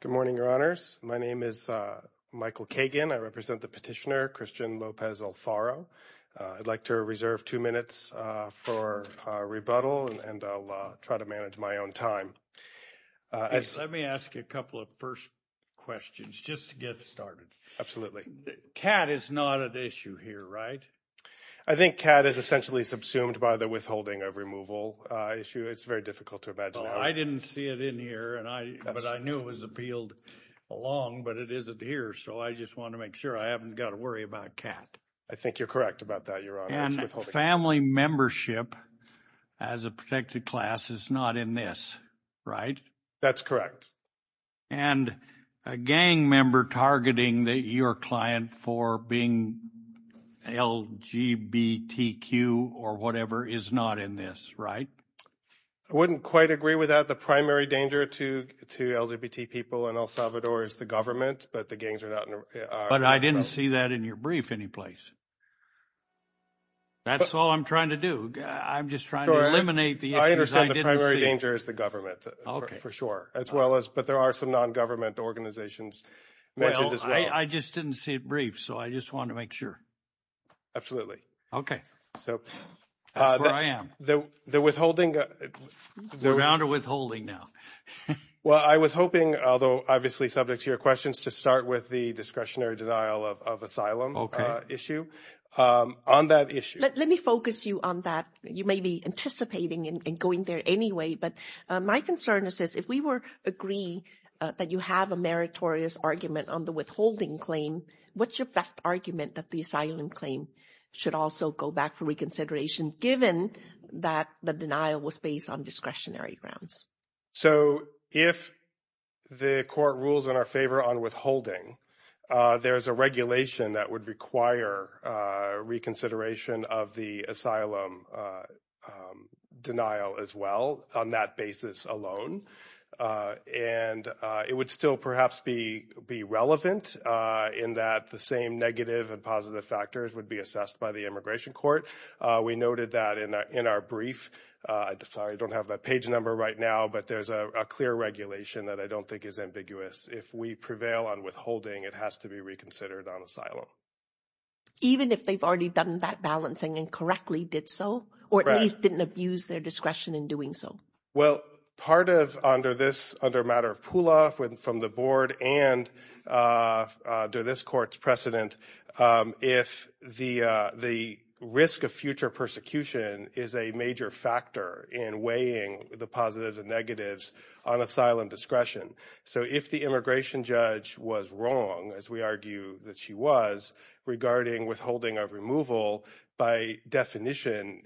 Good morning, Your Honors. My name is Michael Kagan. I represent the petitioner, Christian Lopez Alfaro. I'd like to reserve two minutes for rebuttal, and I'll try to manage my own time. Let me ask you a couple of first questions, just to get started. Absolutely. CAD is not at issue here, right? I think CAD is essentially subsumed by the withholding of removal issue. It's very difficult to imagine. Well, I didn't see it in here, but I knew it was appealed along, but it isn't here, so I just want to make sure I haven't got to worry about CAD. I think you're correct about that, Your Honor. And family membership as a protected class is not in this, right? That's correct. And a gang member targeting your client for being LGBTQ or whatever is not in this, right? I wouldn't quite agree with that. The primary danger to LGBT people in El Salvador is the government, but the gangs are not in our program. But I didn't see that in your brief anyplace. That's all I'm trying to do. I'm just trying to eliminate the issues I didn't see. I understand the primary danger is the government, for sure, as well as, but there are some non-government organizations mentioned as well. Well, I just didn't see it brief, so I just wanted to make sure. Absolutely. Okay. That's where I am. The withholding – We're on to withholding now. Well, I was hoping, although obviously subject to your questions, to start with the discretionary denial of asylum issue. On that issue – Let me focus you on that. You may be anticipating in going there anyway, but my concern is this. If we agree that you have a meritorious argument on the withholding claim, what's your best argument that the asylum claim should also go back for reconsideration given that the denial was based on discretionary grounds? So if the court rules in our favor on withholding, there's a regulation that would require reconsideration of the asylum denial as well on that basis alone. And it would still perhaps be relevant in that the same negative and positive factors would be assessed by the immigration court. We noted that in our brief. Sorry, I don't have that page number right now, but there's a clear regulation that I don't think is ambiguous. If we prevail on withholding, it has to be reconsidered on asylum. Even if they've already done that balancing and correctly did so, or at least didn't abuse their discretion in doing so? Well, part of – under this – under a matter of pull-off from the board and under this court's precedent, if the risk of future persecution is a major factor in weighing the positives and negatives on asylum discretion. So if the immigration judge was wrong, as we argue that she was, regarding withholding of removal, by definition,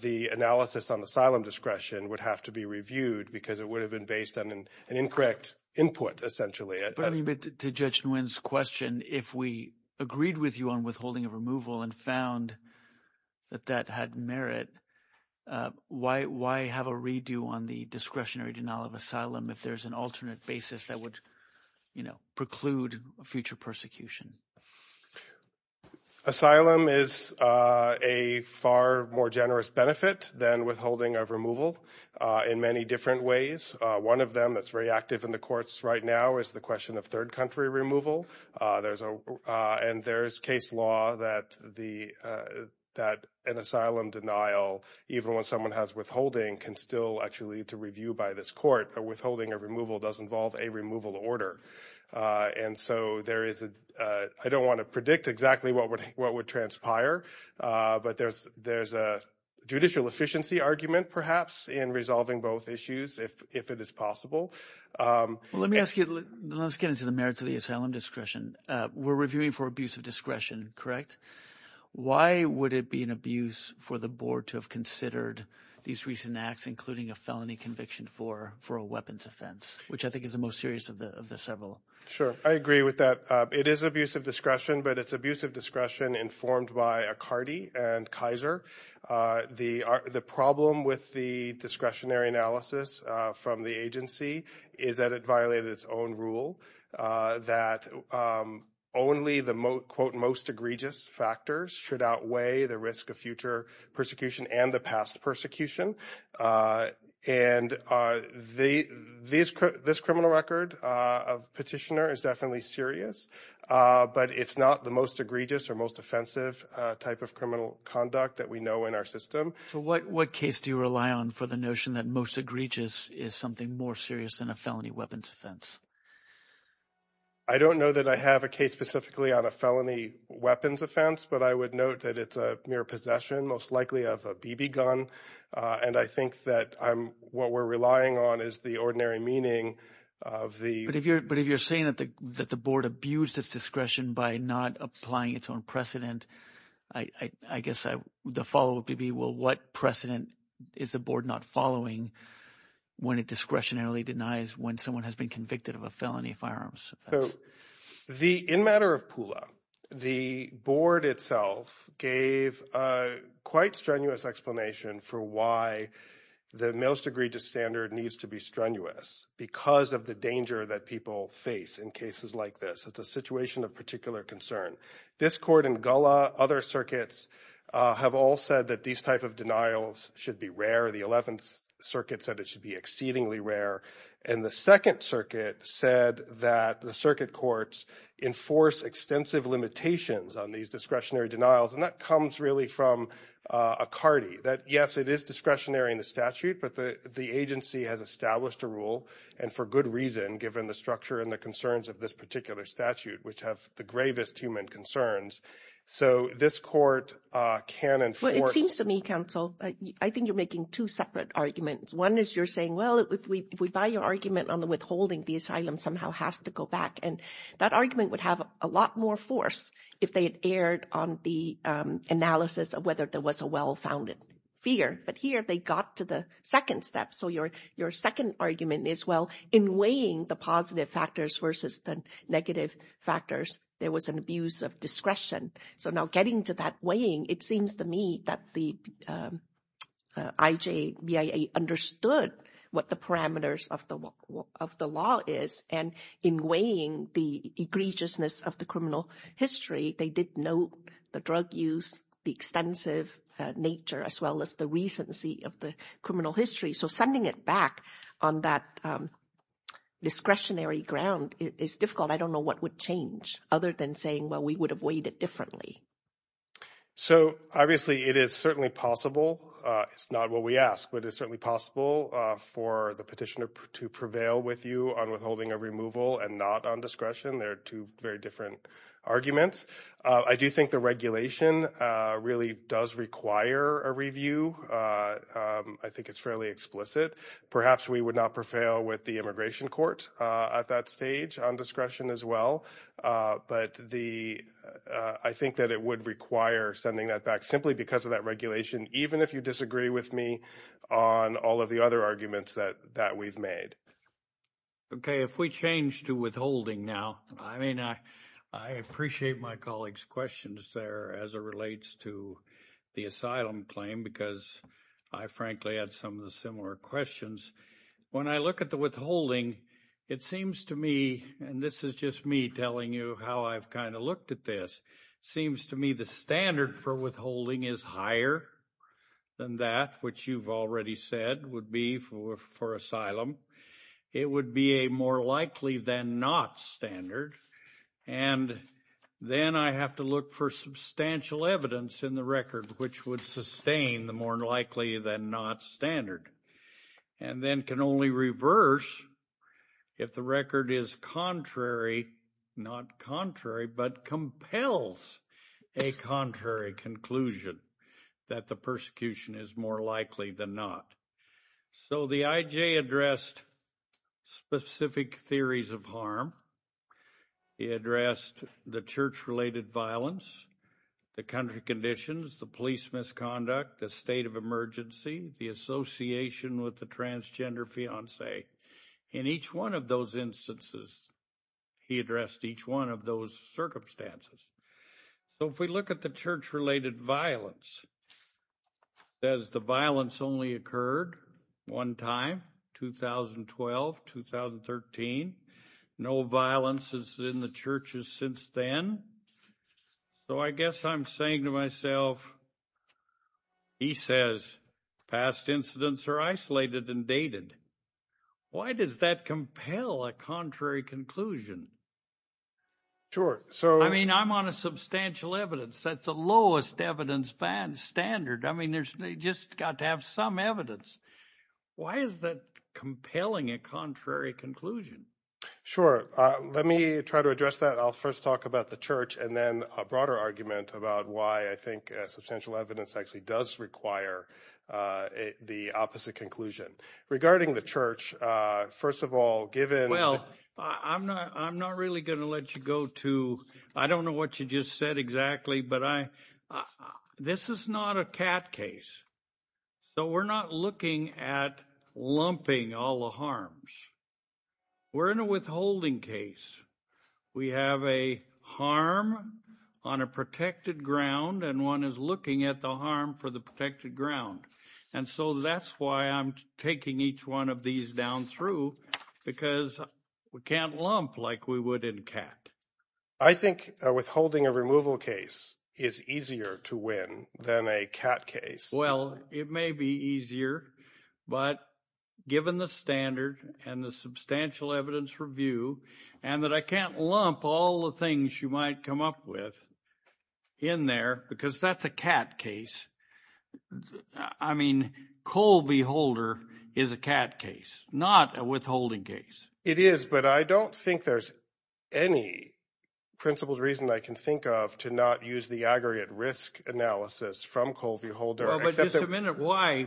the analysis on asylum discretion would have to be reviewed because it would have been based on an incorrect input essentially. But to Judge Nguyen's question, if we agreed with you on withholding of removal and found that that had merit, why have a redo on the discretionary denial of asylum if there's an alternate basis that would preclude future persecution? Asylum is a far more generous benefit than withholding of removal in many different ways. One of them that's very active in the courts right now is the question of third-country removal. And there's case law that the – that an asylum denial, even when someone has withholding, can still actually lead to review by this court. But withholding of removal does involve a removal order. And so there is a – I don't want to predict exactly what would transpire. But there's a judicial efficiency argument perhaps in resolving both issues if it is possible. Let me ask you – let's get into the merits of the asylum discretion. We're reviewing for abuse of discretion, correct? Why would it be an abuse for the board to have considered these recent acts, including a felony conviction for a weapons offense, which I think is the most serious of the several? Sure. I agree with that. It is abuse of discretion, but it's abuse of discretion informed by Acardi and Kaiser. The problem with the discretionary analysis from the agency is that it violated its own rule that only the, quote, most egregious factors should outweigh the risk of future persecution and the past persecution. And this criminal record of petitioner is definitely serious, but it's not the most egregious or most offensive type of criminal conduct that we know in our system. So what case do you rely on for the notion that most egregious is something more serious than a felony weapons offense? I don't know that I have a case specifically on a felony weapons offense, but I would note that it's a mere possession, most likely of a BB gun. And I think that I'm – what we're relying on is the ordinary meaning of the – I guess the follow-up would be, well, what precedent is the board not following when it discretionarily denies when someone has been convicted of a felony firearms offense? The – in matter of PULA, the board itself gave a quite strenuous explanation for why the most egregious standard needs to be strenuous because of the danger that people face in cases like this. It's a situation of particular concern. This court in Gullah, other circuits have all said that these type of denials should be rare. The Eleventh Circuit said it should be exceedingly rare. And the Second Circuit said that the circuit courts enforce extensive limitations on these discretionary denials, and that comes really from a CARTI, that, yes, it is discretionary in the statute. But the agency has established a rule, and for good reason, given the structure and the concerns of this particular statute, which have the gravest human concerns. So this court can enforce – Well, it seems to me, counsel, I think you're making two separate arguments. One is you're saying, well, if we buy your argument on the withholding, the asylum somehow has to go back. And that argument would have a lot more force if they had erred on the analysis of whether there was a well-founded fear. But here they got to the second step. So your second argument is, well, in weighing the positive factors versus the negative factors, there was an abuse of discretion. So now getting to that weighing, it seems to me that the IJBIA understood what the parameters of the law is. And in weighing the egregiousness of the criminal history, they did note the drug use, the extensive nature, as well as the recency of the criminal history. So sending it back on that discretionary ground is difficult. I don't know what would change other than saying, well, we would have weighed it differently. So obviously it is certainly possible. It's not what we ask. But it's certainly possible for the petitioner to prevail with you on withholding a removal and not on discretion. There are two very different arguments. I do think the regulation really does require a review. I think it's fairly explicit. Perhaps we would not prevail with the immigration court at that stage on discretion as well. But I think that it would require sending that back simply because of that regulation, even if you disagree with me on all of the other arguments that we've made. Okay, if we change to withholding now, I mean, I appreciate my colleagues' questions there as it relates to the asylum claim because I frankly had some of the similar questions. When I look at the withholding, it seems to me, and this is just me telling you how I've kind of looked at this, seems to me the standard for withholding is higher than that, which you've already said would be for asylum. It would be a more likely than not standard. And then I have to look for substantial evidence in the record which would sustain the more likely than not standard. And then can only reverse if the record is contrary, not contrary, but compels a contrary conclusion that the persecution is more likely than not. So the IJ addressed specific theories of harm. He addressed the church-related violence, the country conditions, the police misconduct, the state of emergency, the association with the transgender fiancé. In each one of those instances, he addressed each one of those circumstances. So if we look at the church-related violence, as the violence only occurred one time, 2012, 2013, no violence is in the churches since then. So I guess I'm saying to myself, he says past incidents are isolated and dated. Why does that compel a contrary conclusion? I mean, I'm on a substantial evidence. That's the lowest evidence standard. I mean, they just got to have some evidence. Why is that compelling a contrary conclusion? Sure. Let me try to address that. I'll first talk about the church and then a broader argument about why I think substantial evidence actually does require the opposite conclusion. Regarding the church, first of all, given the – Well, I'm not really going to let you go to – I don't know what you just said exactly, but this is not a cat case. So we're not looking at lumping all the harms. We're in a withholding case. We have a harm on a protected ground, and one is looking at the harm for the protected ground. And so that's why I'm taking each one of these down through because we can't lump like we would in cat. I think withholding a removal case is easier to win than a cat case. Well, it may be easier, but given the standard and the substantial evidence review and that I can't lump all the things you might come up with in there because that's a cat case. I mean Colvie Holder is a cat case, not a withholding case. It is, but I don't think there's any principled reason I can think of to not use the aggregate risk analysis from Colvie Holder. Well, but just a minute.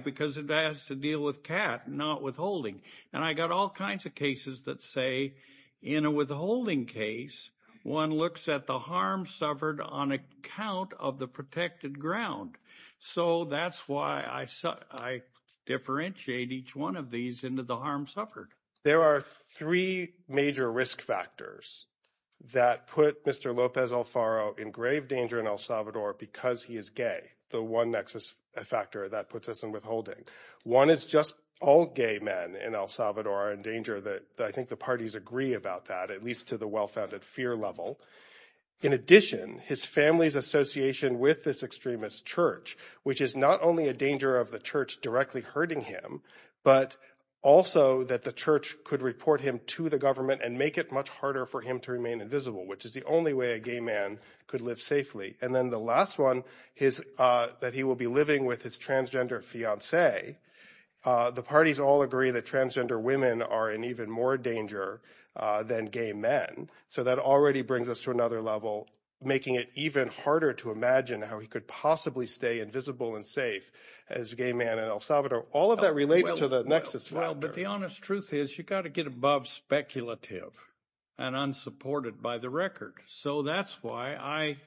Because it has to deal with cat, not withholding. And I got all kinds of cases that say in a withholding case, one looks at the harm suffered on account of the protected ground. So that's why I differentiate each one of these into the harm suffered. There are three major risk factors that put Mr. Lopez Alfaro in grave danger in El Salvador because he is gay. The one nexus factor that puts us in withholding. One is just all gay men in El Salvador are in danger that I think the parties agree about that, at least to the well-founded fear level. In addition, his family's association with this extremist church, which is not only a danger of the church directly hurting him, but also that the church could report him to the government and make it much harder for him to remain invisible, which is the only way a gay man could live safely. And then the last one is that he will be living with his transgender fiancee. The parties all agree that transgender women are in even more danger than gay men. So that already brings us to another level, making it even harder to imagine how he could possibly stay invisible and safe as a gay man in El Salvador. All of that relates to the nexus. Well, but the honest truth is you've got to get above speculative and unsupported by the record. So that's why I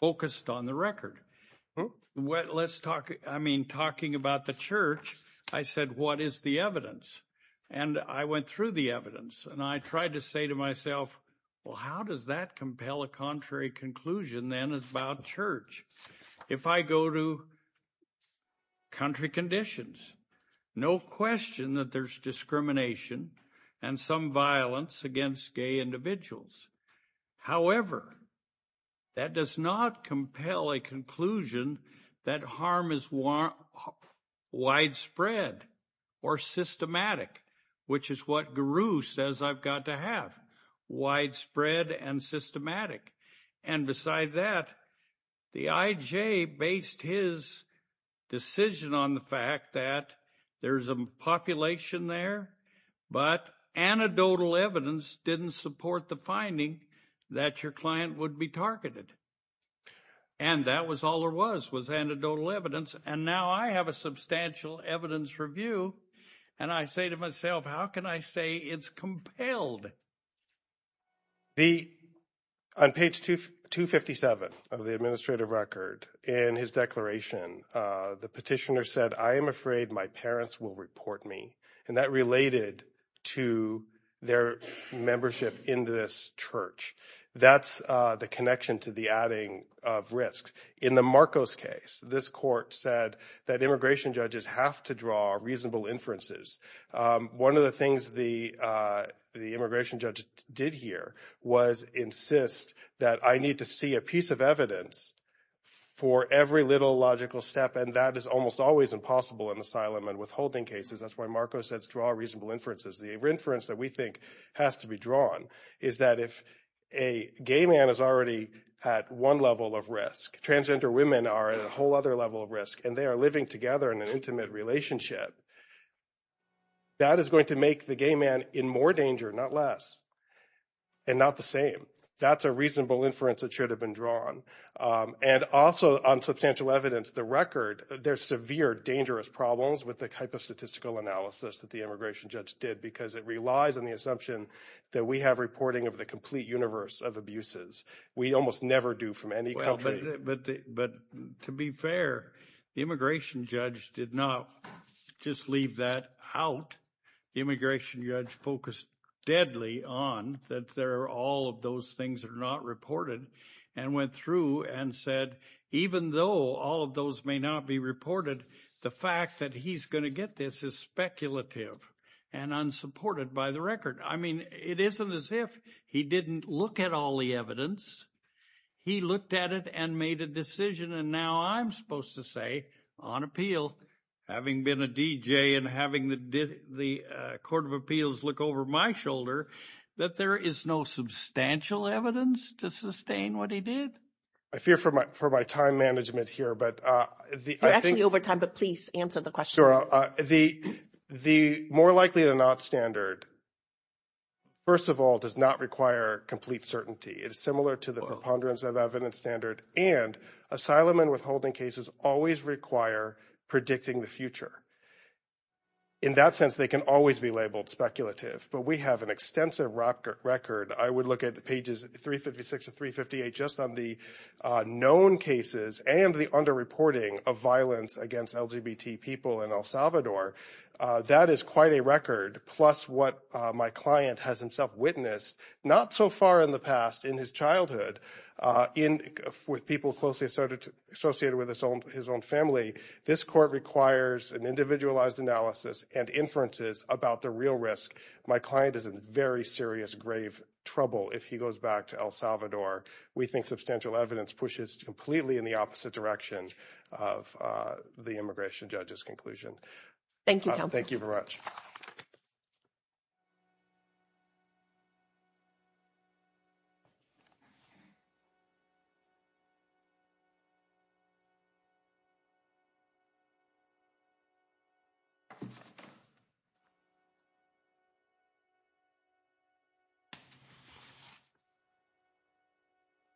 focused on the record. Let's talk. I mean, talking about the church, I said, what is the evidence? And I went through the evidence and I tried to say to myself, well, how does that compel a contrary conclusion then about church? If I go to country conditions, no question that there's discrimination and some violence against gay individuals. However, that does not compel a conclusion that harm is widespread or systematic, which is what Guru says I've got to have widespread and systematic. And beside that, the IJ based his decision on the fact that there's a population there, but anecdotal evidence didn't support the finding that your client would be targeted. And that was all there was, was anecdotal evidence. And now I have a substantial evidence review, and I say to myself, how can I say it's compelled? The on page 257 of the administrative record in his declaration, the petitioner said, I am afraid my parents will report me. And that related to their membership in this church. That's the connection to the adding of risk. In the Marcos case, this court said that immigration judges have to draw reasonable inferences. One of the things the immigration judge did here was insist that I need to see a piece of evidence for every little logical step. And that is almost always impossible in asylum and withholding cases. That's why Marcos says draw reasonable inferences. The inference that we think has to be drawn is that if a gay man is already at one level of risk, transgender women are at a whole other level of risk. And they are living together in an intimate relationship. That is going to make the gay man in more danger, not less. And not the same. That's a reasonable inference that should have been drawn. And also on substantial evidence, the record, there's severe dangerous problems with the type of statistical analysis that the immigration judge did. Because it relies on the assumption that we have reporting of the complete universe of abuses. We almost never do from any country. But to be fair, the immigration judge did not just leave that out. The immigration judge focused deadly on that all of those things are not reported. And went through and said, even though all of those may not be reported, the fact that he's going to get this is speculative and unsupported by the record. I mean, it isn't as if he didn't look at all the evidence. He looked at it and made a decision. And now I'm supposed to say, on appeal, having been a DJ and having the Court of Appeals look over my shoulder, that there is no substantial evidence to sustain what he did. I fear for my time management here. You're actually over time, but please answer the question. The more likely than not standard, first of all, does not require complete certainty. It is similar to the preponderance of evidence standard. And asylum and withholding cases always require predicting the future. In that sense, they can always be labeled speculative. But we have an extensive record. I would look at pages 356 to 358 just on the known cases and the underreporting of violence against LGBT people in El Salvador. That is quite a record. Plus what my client has himself witnessed, not so far in the past, in his childhood, with people closely associated with his own family. This court requires an individualized analysis and inferences about the real risk. My client is in very serious grave trouble if he goes back to El Salvador. We think substantial evidence pushes completely in the opposite direction of the immigration judge's conclusion. Thank you, counsel. Thank you very much.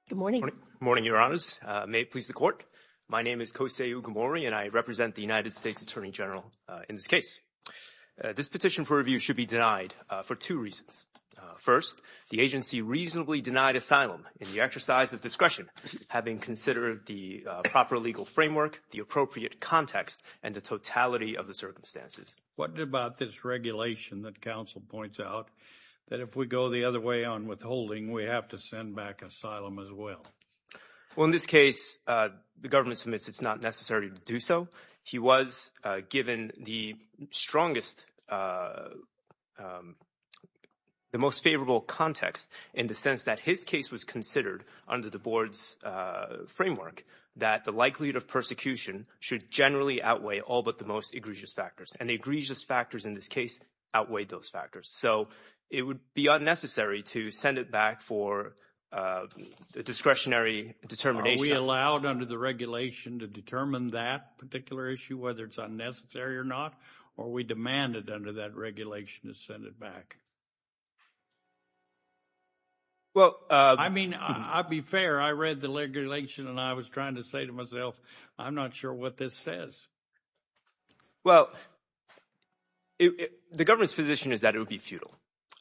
Good morning. Good morning, Your Honors. May it please the court. My name is Kosei Ugamori, and I represent the United States Attorney General in this case. This petition for review should be denied for two reasons. First, the agency reasonably denied asylum in the exercise of discretion, having considered the proper legal framework, the appropriate context, and the totality of the circumstances. What about this regulation that counsel points out, that if we go the other way on withholding, we have to send back asylum as well? Well, in this case, the government submits it's not necessary to do so. He was given the strongest, the most favorable context in the sense that his case was considered under the board's framework, that the likelihood of persecution should generally outweigh all but the most egregious factors. And the egregious factors in this case outweighed those factors. So it would be unnecessary to send it back for a discretionary determination. Are we allowed under the regulation to determine that particular issue, whether it's unnecessary or not? Or are we demanded under that regulation to send it back? Well, I mean, I'll be fair. I read the regulation, and I was trying to say to myself, I'm not sure what this says. Well, the government's position is that it would be futile.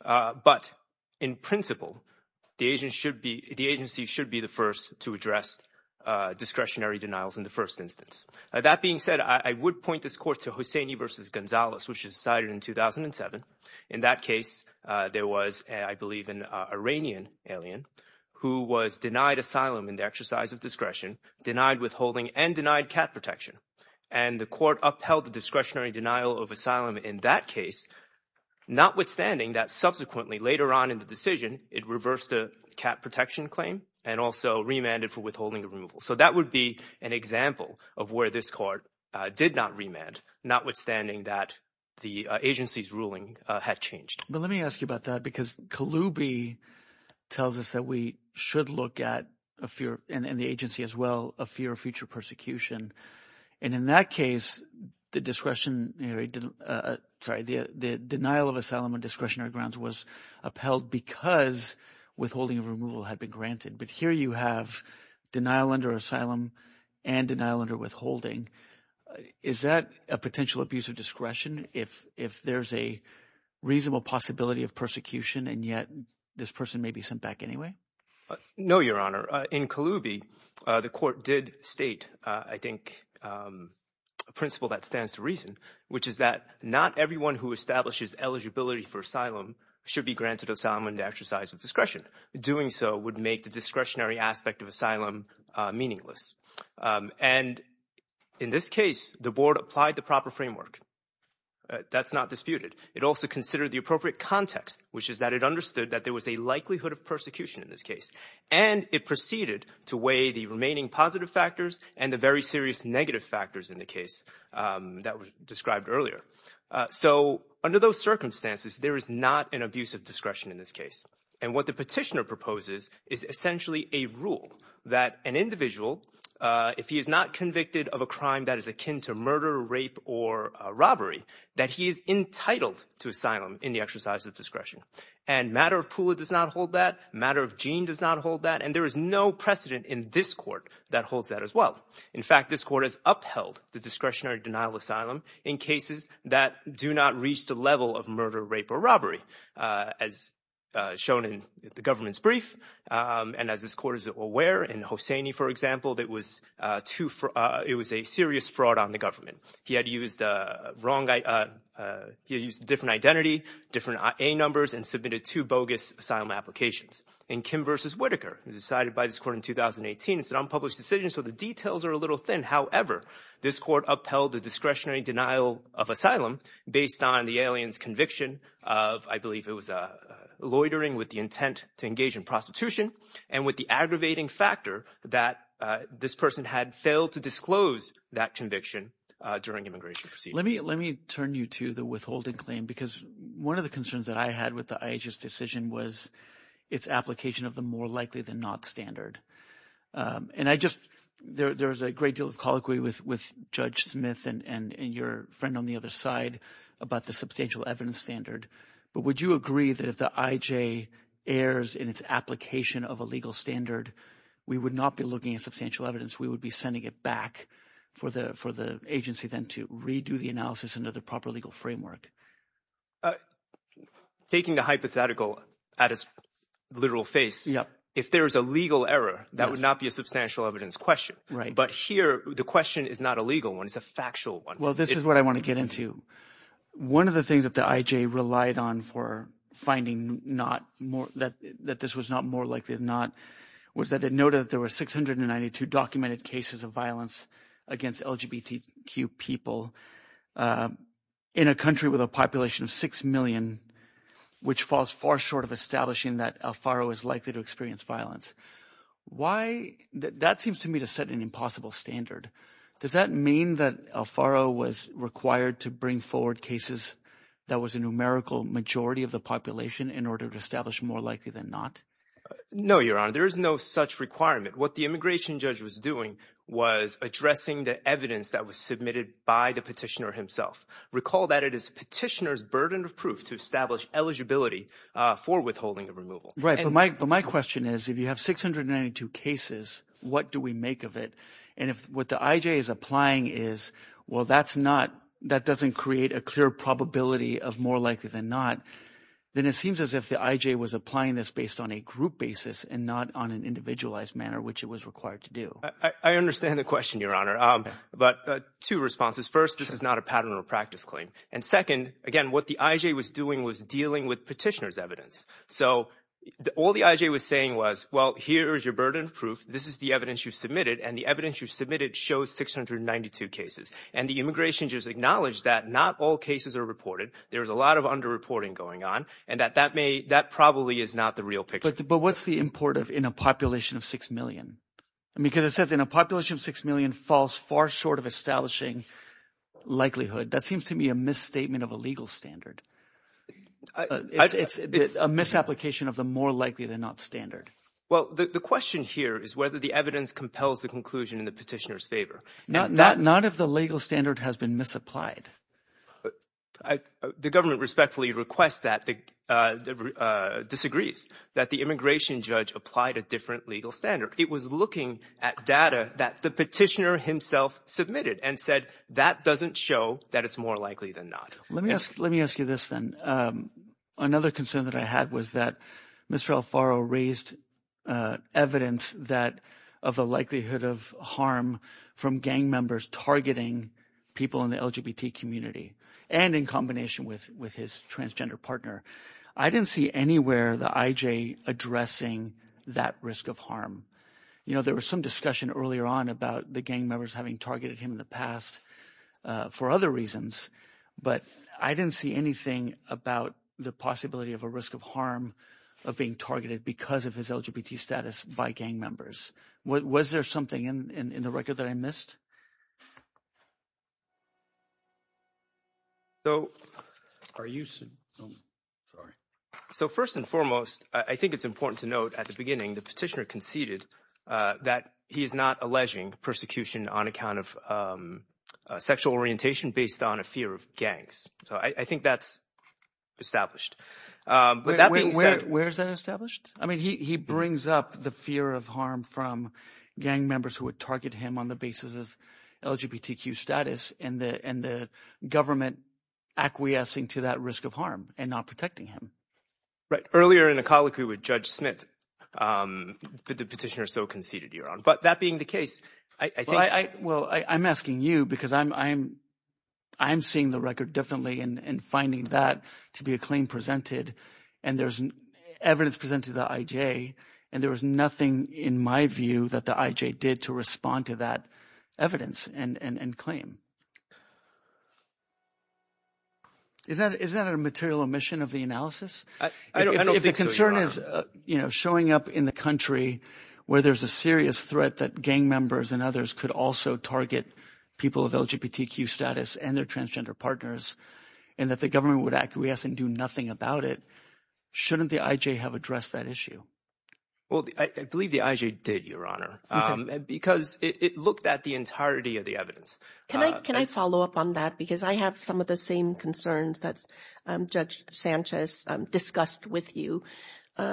But in principle, the agency should be the first to address discretionary denials in the first instance. That being said, I would point this court to Hosseini versus Gonzalez, which is decided in 2007. In that case, there was, I believe, an Iranian alien who was denied asylum in the exercise of discretion, denied withholding, and denied cat protection. And the court upheld the discretionary denial of asylum in that case, notwithstanding that subsequently, later on in the decision, it reversed the cat protection claim and also remanded for withholding the removal. So that would be an example of where this court did not remand, notwithstanding that the agency's ruling had changed. But let me ask you about that because Kaloubi tells us that we should look at, and the agency as well, a fear of future persecution. And in that case, the discretionary – sorry, the denial of asylum on discretionary grounds was upheld because withholding of removal had been granted. But here you have denial under asylum and denial under withholding. Is that a potential abuse of discretion if there's a reasonable possibility of persecution and yet this person may be sent back anyway? No, Your Honor. In Kaloubi, the court did state, I think, a principle that stands to reason, which is that not everyone who establishes eligibility for asylum should be granted asylum in the exercise of discretion. Doing so would make the discretionary aspect of asylum meaningless. And in this case, the board applied the proper framework. That's not disputed. It also considered the appropriate context, which is that it understood that there was a likelihood of persecution in this case. And it proceeded to weigh the remaining positive factors and the very serious negative factors in the case that was described earlier. So under those circumstances, there is not an abuse of discretion in this case. And what the petitioner proposes is essentially a rule that an individual, if he is not convicted of a crime that is akin to murder, rape or robbery, that he is entitled to asylum in the exercise of discretion. And matter of Pula does not hold that. Matter of Jean does not hold that. And there is no precedent in this court that holds that as well. In fact, this court has upheld the discretionary denial asylum in cases that do not reach the level of murder, rape or robbery as shown in the government's brief. And as this court is aware in Hosseini, for example, that was too. It was a serious fraud on the government. He had used the wrong guy. He used different identity, different numbers and submitted to bogus asylum applications. And Kim versus Whitaker is decided by this court in 2018. It's an unpublished decision. So the details are a little thin. However, this court upheld the discretionary denial of asylum based on the alien's conviction of I believe it was a loitering with the intent to engage in prostitution. And with the aggravating factor that this person had failed to disclose that conviction during immigration. Let me let me turn you to the withholding claim, because one of the concerns that I had with the decision was its application of the more likely than not standard. And I just there is a great deal of colloquy with Judge Smith and your friend on the other side about the substantial evidence standard. But would you agree that if the IJ airs in its application of a legal standard, we would not be looking at substantial evidence. We would be sending it back for the for the agency then to redo the analysis into the proper legal framework. Taking the hypothetical at its literal face. Yeah. If there is a legal error, that would not be a substantial evidence question. Right. But here the question is not a legal one. It's a factual one. Well, this is what I want to get into. One of the things that the IJ relied on for finding not more that that this was not more likely than not, was that it noted that there were six hundred and ninety two documented cases of violence against LGBTQ people in a country with a population of six million, which falls far short of establishing that Alfaro is likely to experience violence. Why that seems to me to set an impossible standard. Does that mean that Alfaro was required to bring forward cases that was a numerical majority of the population in order to establish more likely than not? No, your honor, there is no such requirement. What the immigration judge was doing was addressing the evidence that was submitted by the petitioner himself. Recall that it is petitioner's burden of proof to establish eligibility for withholding the removal. Right. But my but my question is, if you have six hundred and ninety two cases, what do we make of it? And if what the IJ is applying is, well, that's not that doesn't create a clear probability of more likely than not, then it seems as if the IJ was applying this based on a group basis and not on an individualized manner, which it was required to do. I understand the question, your honor. But two responses. First, this is not a pattern or practice claim. And second, again, what the IJ was doing was dealing with petitioner's evidence. So all the IJ was saying was, well, here is your burden of proof. This is the evidence you submitted and the evidence you submitted shows six hundred and ninety two cases. And the immigration judge acknowledged that not all cases are reported. There is a lot of underreporting going on and that that may that probably is not the real picture. But what's the import of in a population of six million? Because it says in a population of six million falls far short of establishing likelihood. That seems to me a misstatement of a legal standard. It's a misapplication of the more likely than not standard. Well, the question here is whether the evidence compels the conclusion in the petitioner's favor. Not if the legal standard has been misapplied. The government respectfully requests that, disagrees that the immigration judge applied a different legal standard. It was looking at data that the petitioner himself submitted and said that doesn't show that it's more likely than not. Let me ask. Let me ask you this then. Another concern that I had was that Mr. Alfaro raised evidence that of the likelihood of harm from gang members targeting people in the LGBT community and in combination with with his transgender partner. I didn't see anywhere the IJ addressing that risk of harm. You know, there was some discussion earlier on about the gang members having targeted him in the past for other reasons. But I didn't see anything about the possibility of a risk of harm of being targeted because of his LGBT status by gang members. Was there something in the record that I missed? So are you sorry? So first and foremost, I think it's important to note at the beginning, the petitioner conceded that he is not alleging persecution on account of sexual orientation based on a fear of gangs. So I think that's established. But that way, where is that established? I mean, he brings up the fear of harm from gang members who would target him on the basis of LGBTQ status and the and the government acquiescing to that risk of harm and not protecting him. Right. Earlier in a colloquy with Judge Smith, the petitioner so conceded your own. But that being the case, I think. Well, I'm asking you because I'm I'm I'm seeing the record differently and finding that to be a claim presented. And there's evidence presented the IJ. And there was nothing in my view that the IJ did to respond to that evidence and claim. Is that is that a material omission of the analysis? I don't think the concern is showing up in the country where there's a serious threat that gang members and others could also target people of LGBTQ status and their transgender partners and that the government would acquiesce and do nothing about it. Shouldn't the IJ have addressed that issue? Well, I believe the IJ did, Your Honor, because it looked at the entirety of the evidence. Can I can I follow up on that? Because I have some of the same concerns that Judge Sanchez discussed with you. The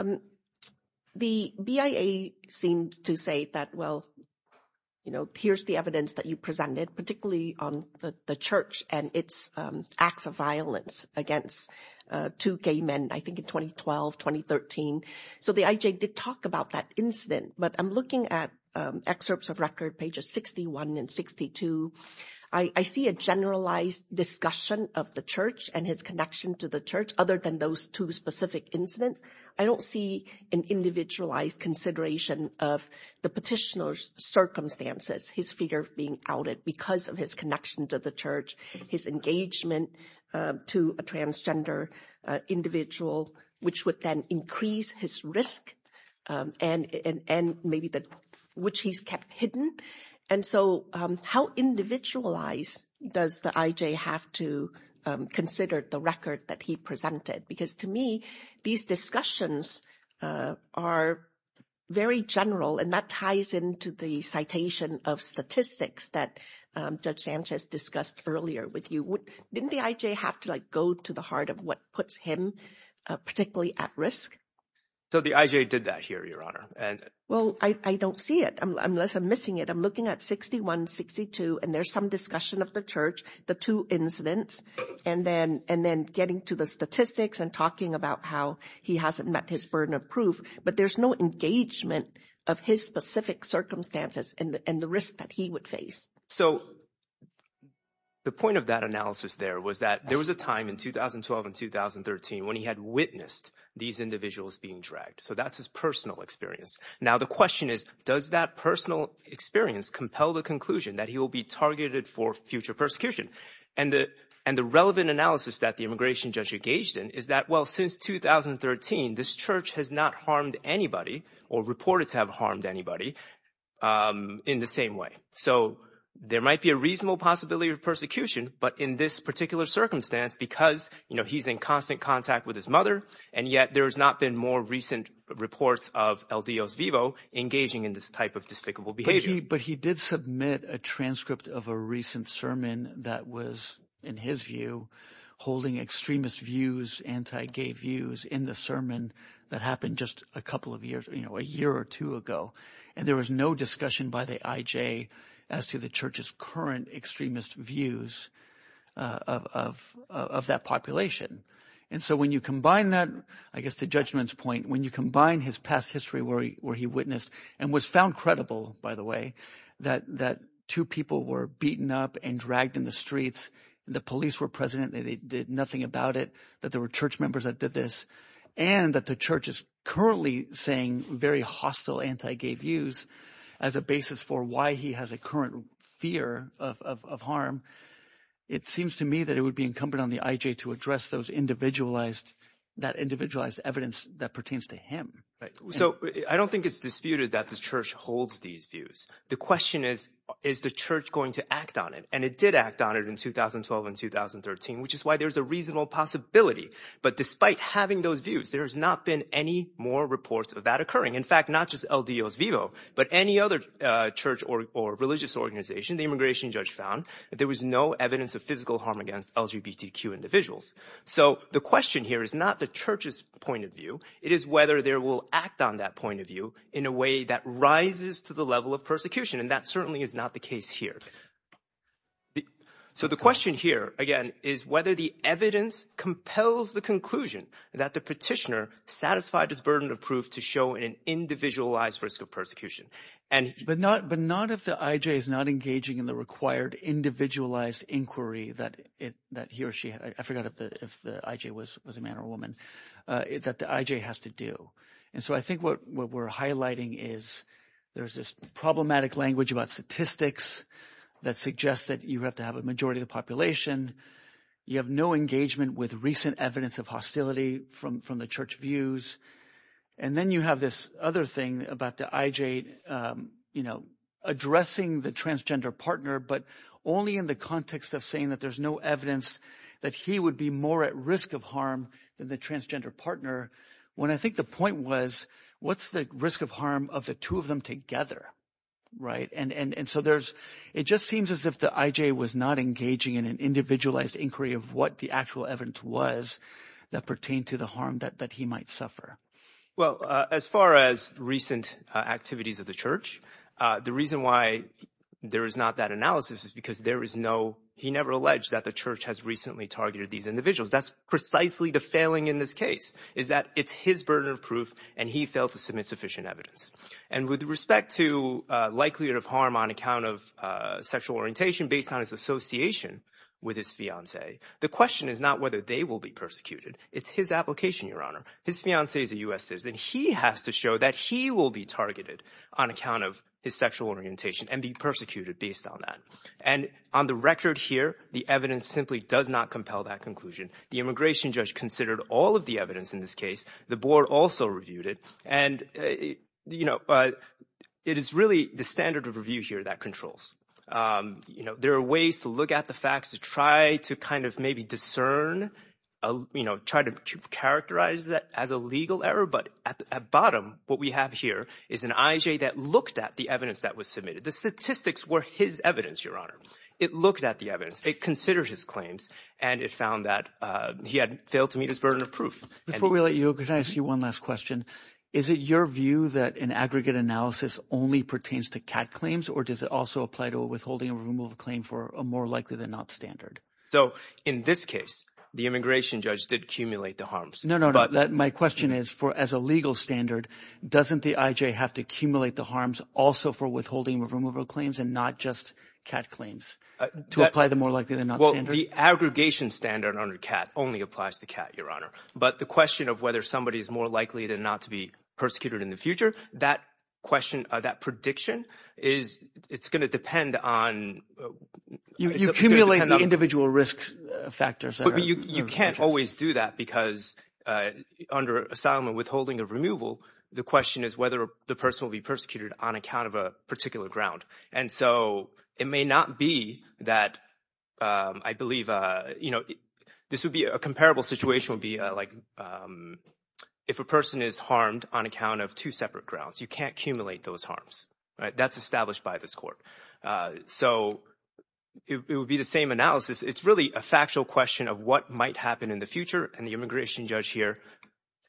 BIA seemed to say that, well, you know, here's the evidence that you presented, particularly on the church and its acts of violence against two gay men, I think, in 2012, 2013. So the IJ did talk about that incident. But I'm looking at excerpts of record pages 61 and 62. I see a generalized discussion of the church and his connection to the church. Other than those two specific incidents, I don't see an individualized consideration of the petitioner's circumstances. His fear of being outed because of his connection to the church, his engagement to a transgender individual, which would then increase his risk and maybe that which he's kept hidden. And so how individualized does the IJ have to consider the record that he presented? Because to me, these discussions are very general and that ties into the citation of statistics that Judge Sanchez discussed earlier with you. Didn't the IJ have to go to the heart of what puts him particularly at risk? So the IJ did that here, Your Honor. Well, I don't see it unless I'm missing it. I'm looking at 61, 62, and there's some discussion of the church, the two incidents, and then getting to the statistics and talking about how he hasn't met his burden of proof. But there's no engagement of his specific circumstances and the risk that he would face. So the point of that analysis there was that there was a time in 2012 and 2013 when he had witnessed these individuals being dragged. So that's his personal experience. Now, the question is, does that personal experience compel the conclusion that he will be targeted for future persecution? And the relevant analysis that the immigration judge engaged in is that, well, since 2013, this church has not harmed anybody or reported to have harmed anybody in the same way. So there might be a reasonable possibility of persecution. But in this particular circumstance, because he's in constant contact with his mother and yet there has not been more recent reports of El Dios Vivo engaging in this type of despicable behavior. But he did submit a transcript of a recent sermon that was, in his view, holding extremist views, anti-gay views in the sermon that happened just a couple of years, a year or two ago. And there was no discussion by the IJ as to the church's current extremist views of that population. And so when you combine that, I guess the judgment's point, when you combine his past history where he witnessed and was found credible, by the way, that two people were beaten up and dragged in the streets. The police were present. They did nothing about it, that there were church members that did this, and that the church is currently saying very hostile anti-gay views as a basis for why he has a current fear of harm. It seems to me that it would be incumbent on the IJ to address those individualized – that individualized evidence that pertains to him. So I don't think it's disputed that the church holds these views. The question is, is the church going to act on it? And it did act on it in 2012 and 2013, which is why there's a reasonable possibility. But despite having those views, there has not been any more reports of that occurring. In fact, not just El Dios Vivo, but any other church or religious organization, the immigration judge found that there was no evidence of physical harm against LGBTQ individuals. So the question here is not the church's point of view. It is whether there will act on that point of view in a way that rises to the level of persecution, and that certainly is not the case here. So the question here, again, is whether the evidence compels the conclusion that the petitioner satisfied his burden of proof to show an individualized risk of persecution. But not if the IJ is not engaging in the required individualized inquiry that he or she – I forgot if the IJ was a man or a woman – that the IJ has to do. And so I think what we're highlighting is there's this problematic language about statistics that suggests that you have to have a majority of the population. You have no engagement with recent evidence of hostility from the church views. And then you have this other thing about the IJ addressing the transgender partner but only in the context of saying that there's no evidence that he would be more at risk of harm than the transgender partner. When I think the point was what's the risk of harm of the two of them together? And so there's – it just seems as if the IJ was not engaging in an individualized inquiry of what the actual evidence was that pertained to the harm that he might suffer. Well, as far as recent activities of the church, the reason why there is not that analysis is because there is no – he never alleged that the church has recently targeted these individuals. That's precisely the failing in this case is that it's his burden of proof, and he failed to submit sufficient evidence. And with respect to likelihood of harm on account of sexual orientation based on his association with his fiancée, the question is not whether they will be persecuted. It's his application, Your Honor. His fiancée is a U.S. citizen. He has to show that he will be targeted on account of his sexual orientation and be persecuted based on that. And on the record here, the evidence simply does not compel that conclusion. The immigration judge considered all of the evidence in this case. The board also reviewed it. And it is really the standard of review here that controls. There are ways to look at the facts to try to kind of maybe discern, try to characterize that as a legal error. But at the bottom, what we have here is an IJ that looked at the evidence that was submitted. The statistics were his evidence, Your Honor. It looked at the evidence. It considered his claims, and it found that he had failed to meet his burden of proof. Before we let you go, can I ask you one last question? Is it your view that an aggregate analysis only pertains to CAT claims, or does it also apply to a withholding or removal claim for a more likely than not standard? So in this case, the immigration judge did accumulate the harms. No, no, no. My question is, as a legal standard, doesn't the IJ have to accumulate the harms also for withholding or removal claims and not just CAT claims to apply the more likely than not standard? Well, the aggregation standard under CAT only applies to CAT, Your Honor. But the question of whether somebody is more likely than not to be persecuted in the future, that question, that prediction is – it's going to depend on… You accumulate the individual risk factors. You can't always do that because under asylum and withholding or removal, the question is whether the person will be persecuted on account of a particular ground. And so it may not be that I believe – this would be – a comparable situation would be like if a person is harmed on account of two separate grounds. You can't accumulate those harms. That's established by this court. So it would be the same analysis. It's really a factual question of what might happen in the future.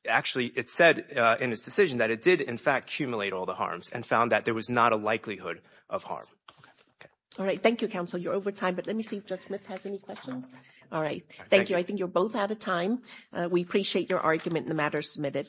Actually, it said in its decision that it did, in fact, accumulate all the harms and found that there was not a likelihood of harm. All right. Thank you, counsel. You're over time, but let me see if Judge Smith has any questions. All right. Thank you. I think you're both out of time. We appreciate your argument. The matter is submitted.